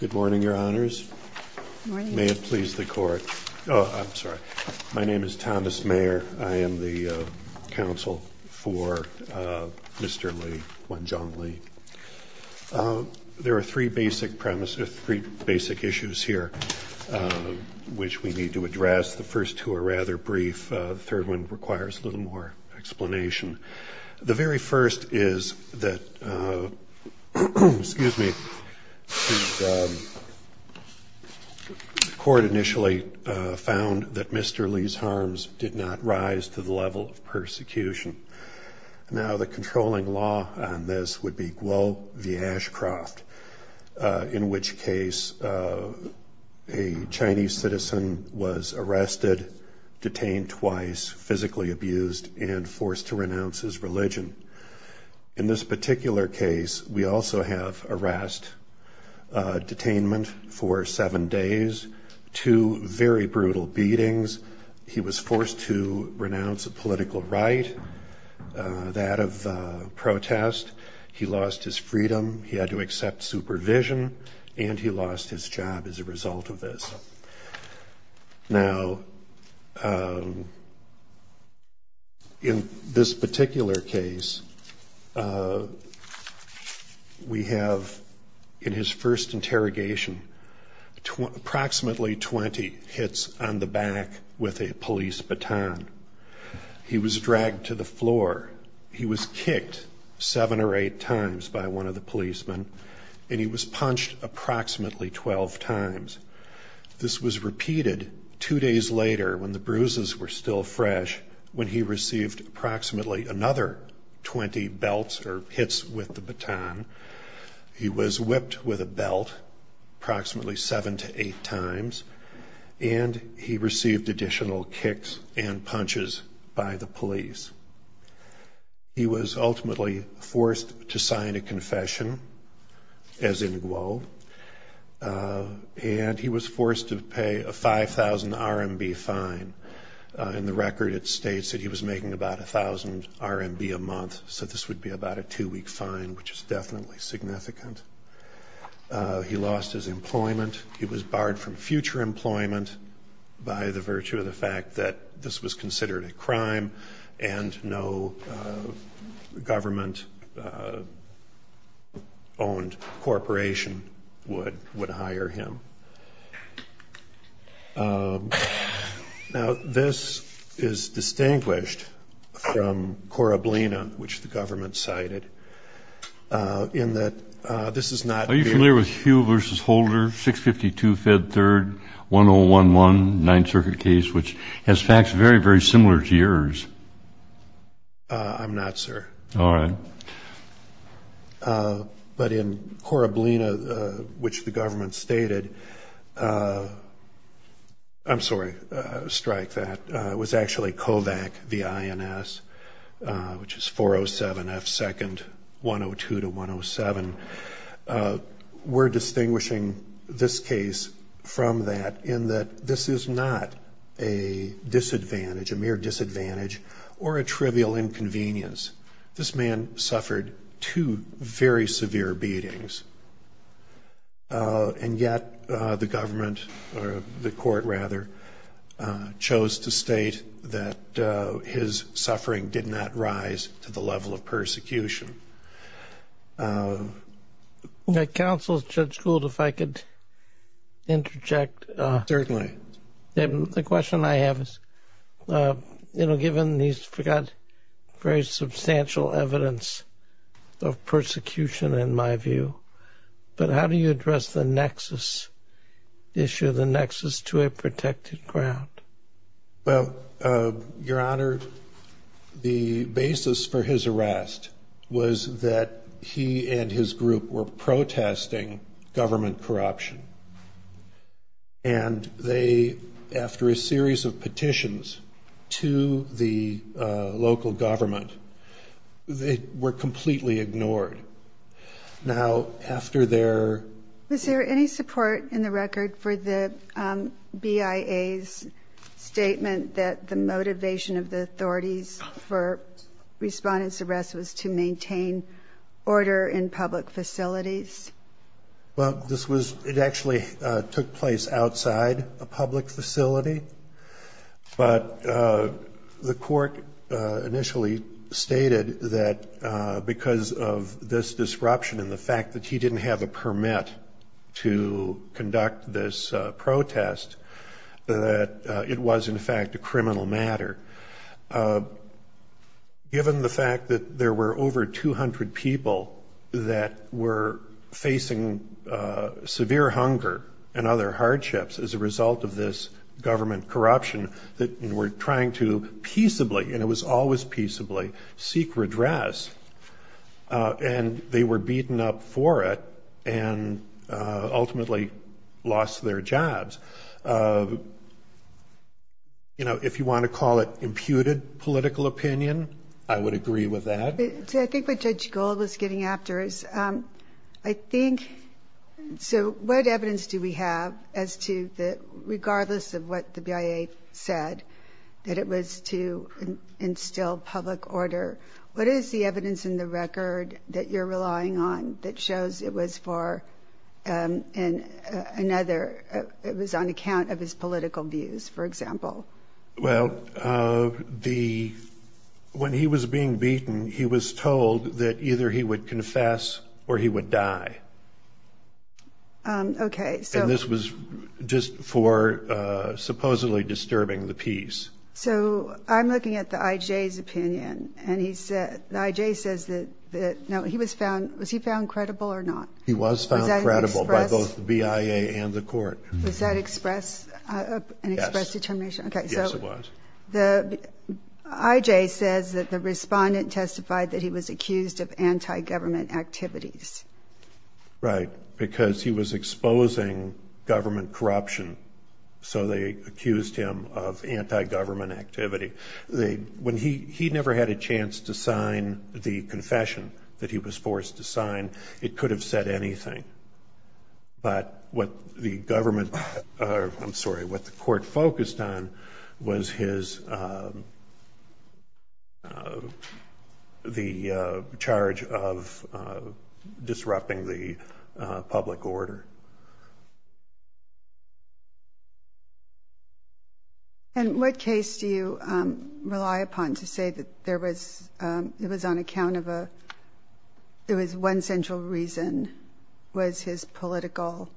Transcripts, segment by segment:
Good morning, Your Honors. May it please the Court. Oh, I'm sorry. My name is Thomas Mayer. I am the counsel for Mr. Li, Wenzhuang Li. There are three basic issues here which we need to address. The first two are rather brief. The third one requires a little more explanation. The very first is that the Court initially found that Mr. Li's harms did not rise to the level of persecution. Now the controlling law on this would be Guo v. Ashcroft, in which case a Chinese citizen was arrested, detained twice, physically abused, and forced to renounce his religion. In this particular case, we also have arrest, detainment for seven days, two very brutal beatings. He was forced to renounce a political right, that of protest. He lost his freedom, he had to accept supervision, and he lost his job as a result of this. Now, in this particular case, we have in his first interrogation approximately 20 hits on the back with a police baton. He was dragged to the floor, he was kicked seven or eight times by one of the policemen, and he was punched approximately 12 times. This was repeated two days later when the bruises were still fresh, when he received approximately another 20 belts or hits with the baton. He was whipped with a belt approximately seven to eight times, and he received additional kicks and punches by the police. He was ultimately forced to sign a confession, as in Guo, and he was forced to pay a 5,000 RMB fine. In the record, it states that he was making about 1,000 RMB a month, so this would be about a two-week fine, which is definitely significant. He lost his employment. He was barred from future employment by the virtue of the fact that this was considered a crime, and no government-owned corporation would hire him. Now, this is distinguished from Corablina, which the government cited, in that this is not a very... Are you familiar with Huell v. Holder, 652 Fed 3rd, 1011, 9th Circuit case, which has facts very, very similar to yours? I'm not, sir. All right. But in Corablina, which the government stated... I'm sorry, strike that. It was actually Kovac v. INS, which is 407 F 2nd, 102 to 107. We're distinguishing this case from that in that this is not a disadvantage, a mere disadvantage, or a trivial inconvenience. This man suffered two very severe beatings, and yet the government, or the court rather, chose to state that his suffering did not rise to the level of persecution. Counsel, Judge Gould, if I could interject. Certainly. The question I have is, given these very substantial evidence of persecution, in my view, but how do you address the issue of the nexus to a protected ground? Well, Your Honor, the basis for his arrest was that he and his group were protesting government corruption, and they, after a series of petitions to the local government, were completely ignored. Now, after their... Was there any support in the record for the BIA's statement that the motivation of the authorities for respondent's arrest was to maintain order in public facilities? Well, this was... It actually took place outside a public facility, but the court initially stated that because of this disruption and the fact that he didn't have a permit to conduct this protest, that it was, in fact, a criminal matter. Given the fact that there were over 200 people that were facing severe hunger and other hardships as a result of this government corruption, that were trying to peaceably, and it was always peaceably, seek redress, and they were beaten up for it and ultimately lost their jobs. You know, if you want to call it imputed political opinion, I would agree with that. I think what Judge Gold was getting after is, I think... So what evidence do we have as to the... Regardless of what the BIA said, that it was to instill public order, what is the evidence in the record that you're relying on that shows it was for another... It was on account of his political views, for example? Well, the... When he was being beaten, he was told that either he would confess or he would die. Okay, so... And this was just for supposedly disturbing the peace. So I'm looking at the IJ's opinion, and he said... The IJ says that... No, he was found... Was he found credible or not? He was found credible by both the BIA and the court. Was that an express determination? Yes, it was. Okay, so the IJ says that the respondent testified that he was accused of anti-government activities. Right, because he was exposing government corruption, so they accused him of anti-government activity. And it could have said anything. But what the government... I'm sorry, what the court focused on was his... The charge of disrupting the public order. And what case do you rely upon to say that there was... Was his political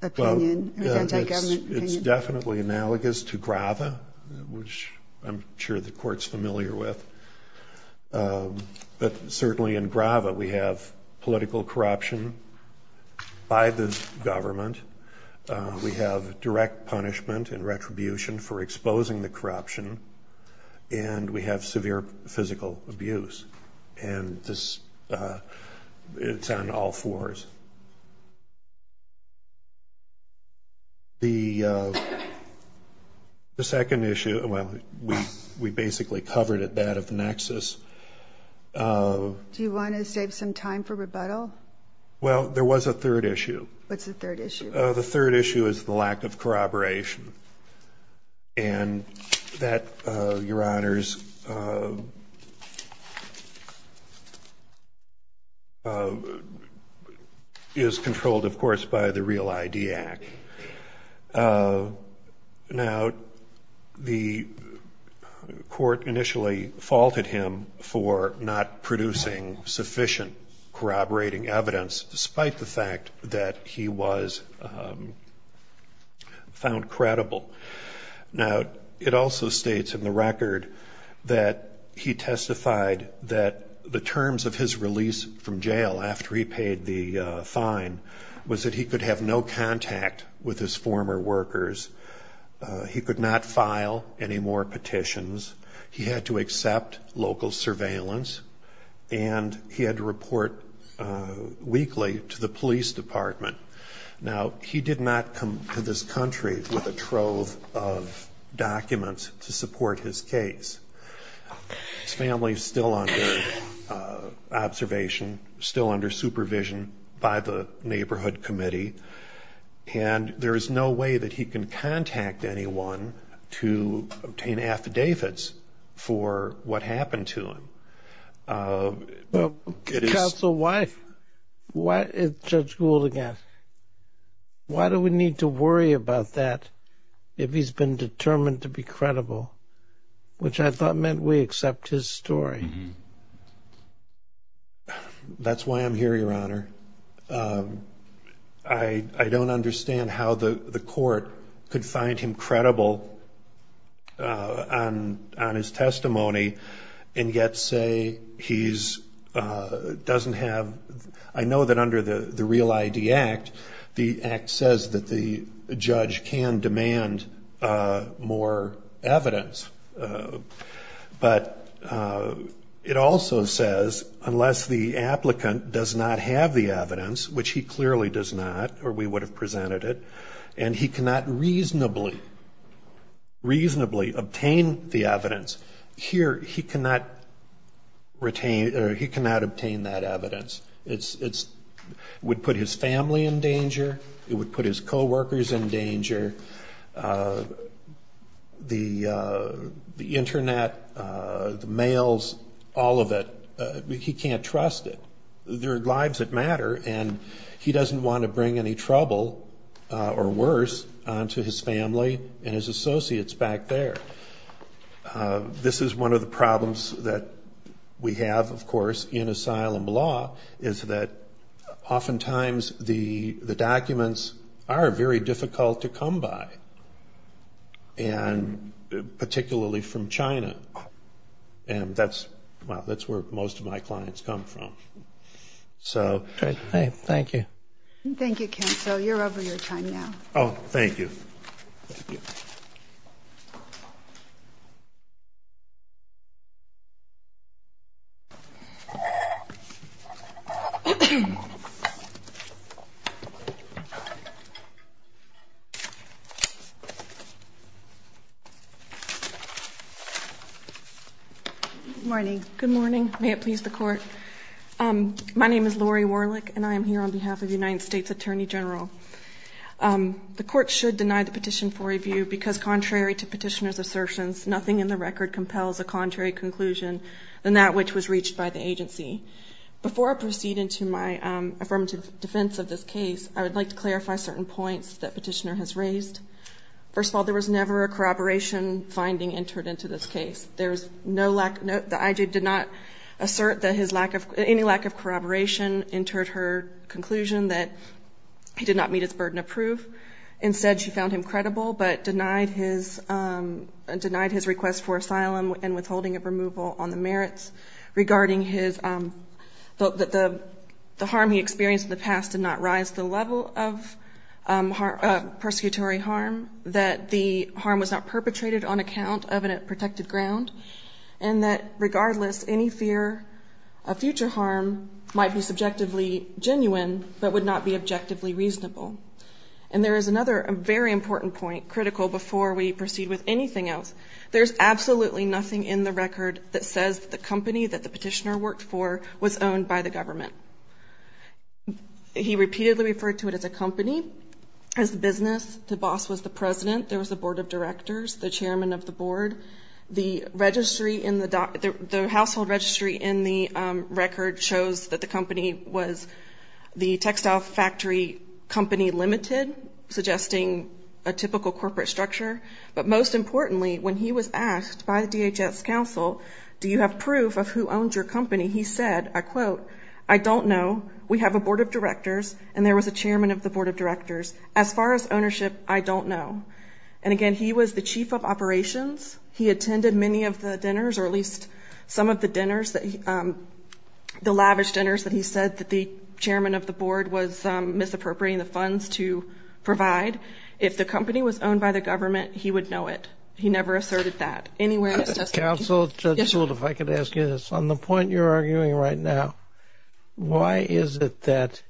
opinion or anti-government opinion? Well, it's definitely analogous to Grava, which I'm sure the court's familiar with. But certainly in Grava, we have political corruption by the government. We have direct punishment and retribution for exposing the corruption. And we have severe physical abuse. And it's on all fours. The second issue, well, we basically covered it, that of nexus. Do you want to save some time for rebuttal? Well, there was a third issue. What's the third issue? The third issue is the lack of corroboration. And that, Your Honors, is controlled, of course, by the Real ID Act. Now, the court initially faulted him for not producing sufficient corroborating evidence, despite the fact that he was found credible. Now, it also states in the record that he testified that the terms of his release from jail after he paid the fine was that he could have no contact with his former workers. He could not file any more petitions. He had to accept local surveillance. And he had to report weekly to the police department. Now, he did not come to this country with a trove of documents to support his case. His family is still under observation, still under supervision by the Neighborhood Committee. And there is no way that he can contact anyone to obtain affidavits for what happened to him. Counsel, why is Judge Gould again? Why do we need to worry about that if he's been determined to be credible, which I thought meant we accept his story? That's why I'm here, Your Honor. I don't understand how the court could find him credible on his testimony and yet say he doesn't have – I know that under the Real ID Act, the Act says that the judge can demand more evidence. But it also says unless the applicant does not have the evidence, which he clearly does not, or we would have presented it, and he cannot reasonably obtain the evidence, here he cannot obtain that evidence. It would put his family in danger. It would put his coworkers in danger. The Internet, the mails, all of it, he can't trust it. There are lives that matter, and he doesn't want to bring any trouble or worse onto his family and his associates back there. This is one of the problems that we have, of course, in asylum law, is that oftentimes the documents are very difficult to come by, and particularly from China. And that's where most of my clients come from. Thank you. Thank you, counsel. You're over your time now. Thank you. Thank you. Good morning. Good morning. May it please the Court. My name is Lori Warlick, and I am here on behalf of the United States Attorney General. The Court should deny the petition for review because contrary to Petitioner's assertions, nothing in the record compels a contrary conclusion than that which was reached by the agency. Before I proceed into my affirmative defense of this case, I would like to clarify certain points that Petitioner has raised. First of all, there was never a corroboration finding entered into this case. There is no lack of note that I.J. did not assert that his lack of any lack of corroboration entered her conclusion that he did not meet his burden of proof. Instead, she found him credible but denied his request for asylum and withholding of removal on the merits regarding the harm he experienced in the past did not rise to the level of persecutory harm, that the harm was not perpetrated on account of a protected ground, and that regardless, any fear of future harm might be subjectively genuine but would not be objectively reasonable. And there is another very important point, critical before we proceed with anything else. There is absolutely nothing in the record that says that the company that the Petitioner worked for was owned by the government. He repeatedly referred to it as a company, as a business. The boss was the president. There was a board of directors, the chairman of the board, the registry in the household registry in the record shows that the company was the textile factory company limited, suggesting a typical corporate structure. But most importantly, when he was asked by the DHS council, do you have proof of who owned your company, he said, I quote, I don't know. We have a board of directors and there was a chairman of the board of directors. As far as ownership, I don't know. And again, he was the chief of operations. He attended many of the dinners, or at least some of the dinners, the lavish dinners that he said that the chairman of the board was misappropriating the funds to provide. If the company was owned by the government, he would know it. He never asserted that anywhere. Counsel, if I could ask you this, on the point you're arguing right now, why is it that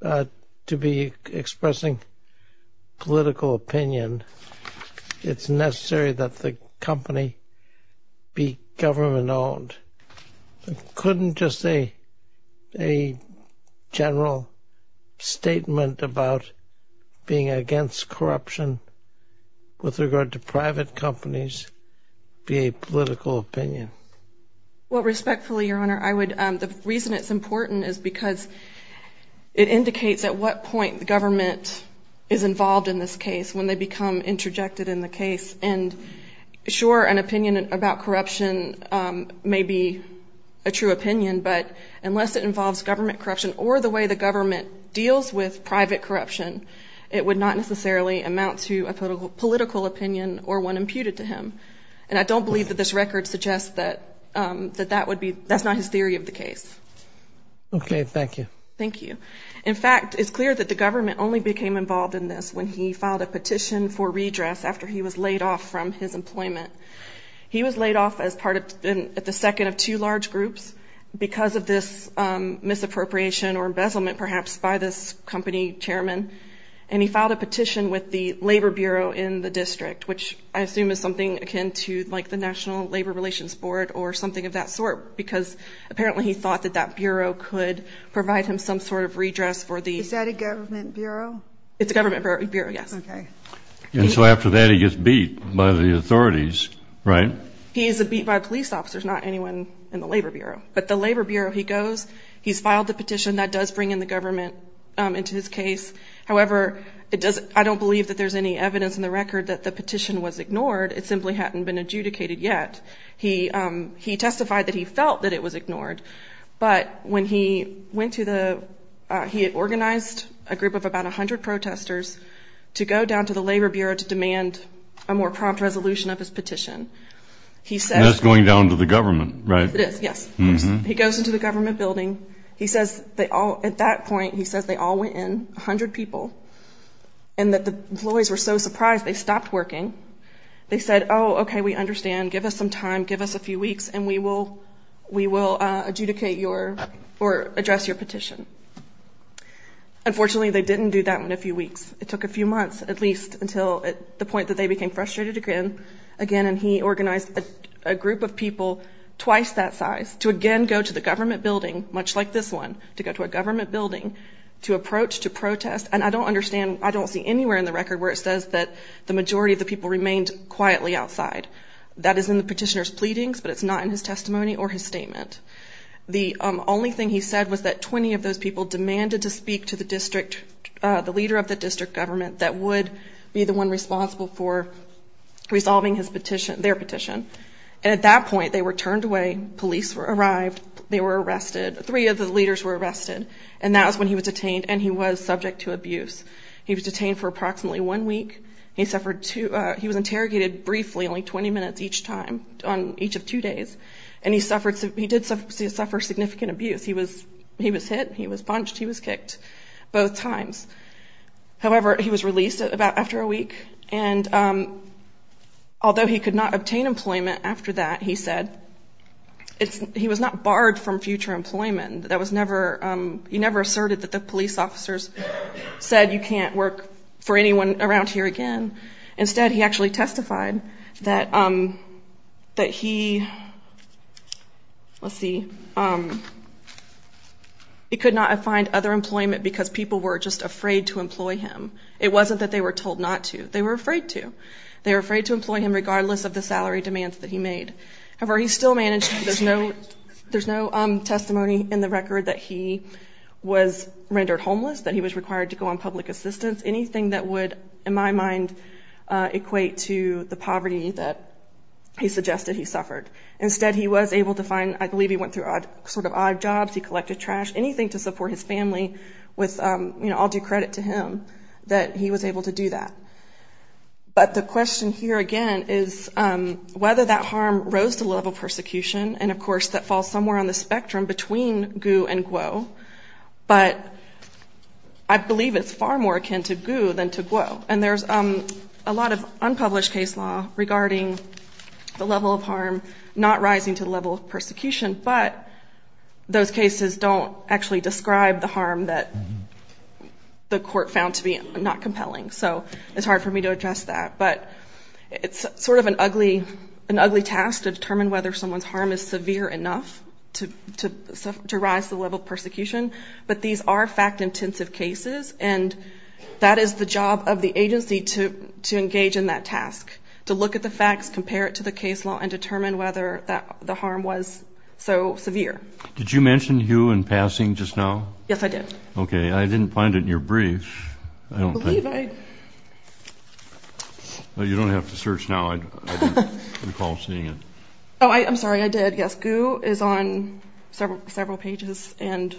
to be expressing political opinion, it's necessary that the company be government owned? Couldn't just a general statement about being against corruption with regard to private companies be a political opinion? Well, respectfully, Your Honor, the reason it's important is because it indicates at what point the government is involved in this case when they become interjected in the case. And sure, an opinion about corruption may be a true opinion, but unless it involves government corruption or the way the government deals with private corruption, it would not necessarily amount to a political opinion or one imputed to him. And I don't believe that this record suggests that that would be, that's not his theory of the case. Okay. Thank you. Thank you. In fact, it's clear that the government only became involved in this when he filed a petition for redress after he was laid off from his employment. He was laid off as part of, at the second of two large groups because of this misappropriation or embezzlement perhaps by this company chairman. And he filed a petition with the labor bureau in the district, which I assume is something akin to like the national labor relations board or something of that sort. Because apparently he thought that that bureau could provide him some sort of redress for the. Is that a government bureau? It's a government bureau. Yes. Okay. And so after that, he gets beat by the authorities, right? He is a beat by police officers, not anyone in the labor bureau, but the labor bureau, he goes, he's filed the petition that does bring in the government into his case. However, it does. I don't believe that there's any evidence in the record that the petition was ignored. It simply hadn't been adjudicated yet. He, he testified that he felt that it was ignored, but when he went to the, he had organized a group of about a hundred protesters to go down to the labor bureau to demand a more prompt resolution of his petition. He said, it's going down to the government, right? It is. Yes. He goes into the government building. He says they all at that point, he says they all went in a hundred people. And that the employees were so surprised they stopped working. They said, Oh, okay. We understand. Give us some time, give us a few weeks and we will, we will adjudicate your or address your petition. Unfortunately, they didn't do that in a few weeks. It took a few months at least until the point that they became frustrated again, again. And he organized a group of people twice that size to again, go to the government building, much like this one to go to a government building to approach, to protest. And I don't understand. I don't see anywhere in the record where it says that the majority of the people remained quietly outside that is in the petitioner's pleadings, but it's not in his testimony or his statement. The only thing he said was that 20 of those people demanded to speak to the district, the leader of the district government that would be the one responsible for resolving his petition, their petition. And at that point they were turned away. Police were arrived. They were arrested. Three of the leaders were arrested. And that was when he was detained and he was subject to abuse. He was detained for approximately one week. He suffered two, he was interrogated briefly, only 20 minutes each time on each of two days. And he suffered, he did suffer significant abuse. He was, he was hit. He was punched. He was kicked both times. However, he was released about after a week. And although he could not obtain employment after that, he said it's, he was not barred from future employment. And that was never, he never asserted that the police officers said you can't work for anyone around here again. Instead, he actually testified that, that he, let's see, it could not find other employment because people were just afraid to employ him. It wasn't that they were told not to, they were afraid to, they were afraid to employ him regardless of the salary demands that he made. However, he still managed. There's no, there's no testimony in the record that he was rendered homeless, that he was required to go on public assistance, anything that would, in my mind, equate to the poverty that he suggested he suffered. Instead, he was able to find, I believe he went through odd, sort of odd jobs. He collected trash, anything to support his family with, you know, I'll do credit to him that he was able to do that. But the question here again is whether that harm rose to level persecution. And of course, that falls somewhere on the spectrum between Gu and Guo. But I believe it's far more akin to Gu than to Guo. And there's a lot of unpublished case law regarding the level of harm, not rising to the level of persecution, but those cases don't actually describe the harm that the court found to be not compelling. So it's hard for me to address that. But it's sort of an ugly, an ugly task to determine whether someone's harm is severe enough to rise to the level of persecution. But these are fact-intensive cases, and that is the job of the agency to engage in that task, to look at the facts, compare it to the case law, and determine whether the harm was so severe. Did you mention Hu in passing just now? Yes, I did. Okay. I didn't find it in your brief. I don't think. I believe I. Well, you don't have to search now. I recall seeing it. Oh, I'm sorry, I did. Yes, Gu is on several pages, and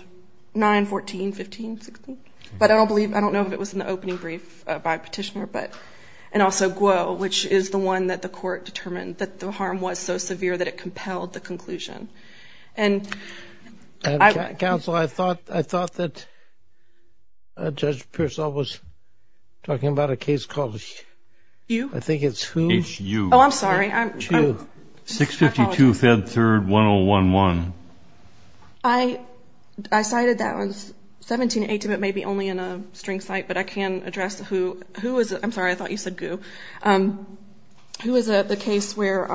9, 14, 15, 16. But I don't believe, I don't know if it was in the opening brief by Petitioner, but, and also Guo, which is the one that the court determined that the harm was so severe that it compelled the conclusion. And. Counsel, I thought, I thought that Judge Pearsall was talking about a case called Hu. I think it's Hu. Hu. Oh, I'm sorry. Hu. 652, Fed 3rd, 1011. I, I cited that one, 17, 18, but maybe only in a string cite, but I can address who, who was, I'm sorry, I thought you said Gu. Who was the case where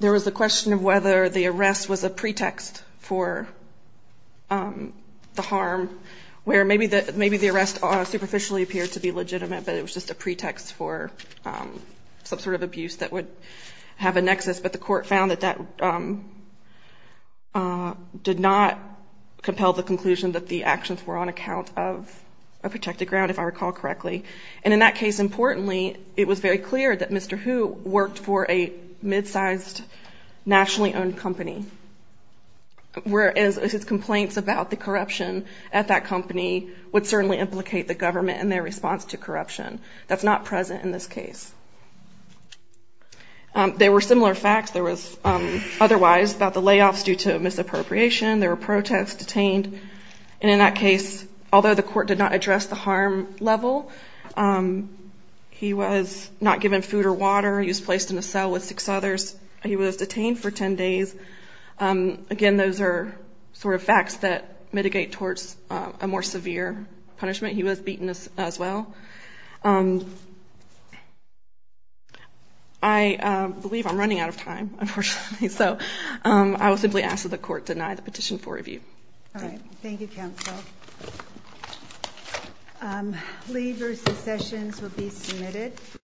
there was a question of whether the arrest was a pretext for the harm, where maybe the, maybe the arrest superficially appeared to be legitimate, but it was just a pretext for some sort of abuse that would have a nexus. But the court found that that did not compel the conclusion that the actions were on account of a protected ground, if I recall correctly. And in that case, importantly, it was very clear that Mr. Hu worked for a mid-sized nationally owned company, whereas his complaints about the corruption at that company would certainly implicate the government in their response to corruption. That's not present in this case. There were similar facts. There was otherwise about the layoffs due to misappropriation. There were protests detained. And in that case, although the court did not address the harm level, he was not given food or water. He was placed in a cell with six others. He was detained for 10 days. Again, those are sort of facts that mitigate towards a more severe punishment. He was beaten as well. I believe I'm running out of time, unfortunately. So I will simply ask that the court deny the petition for review. All right. Thank you, counsel. Lee versus Sessions will be submitted.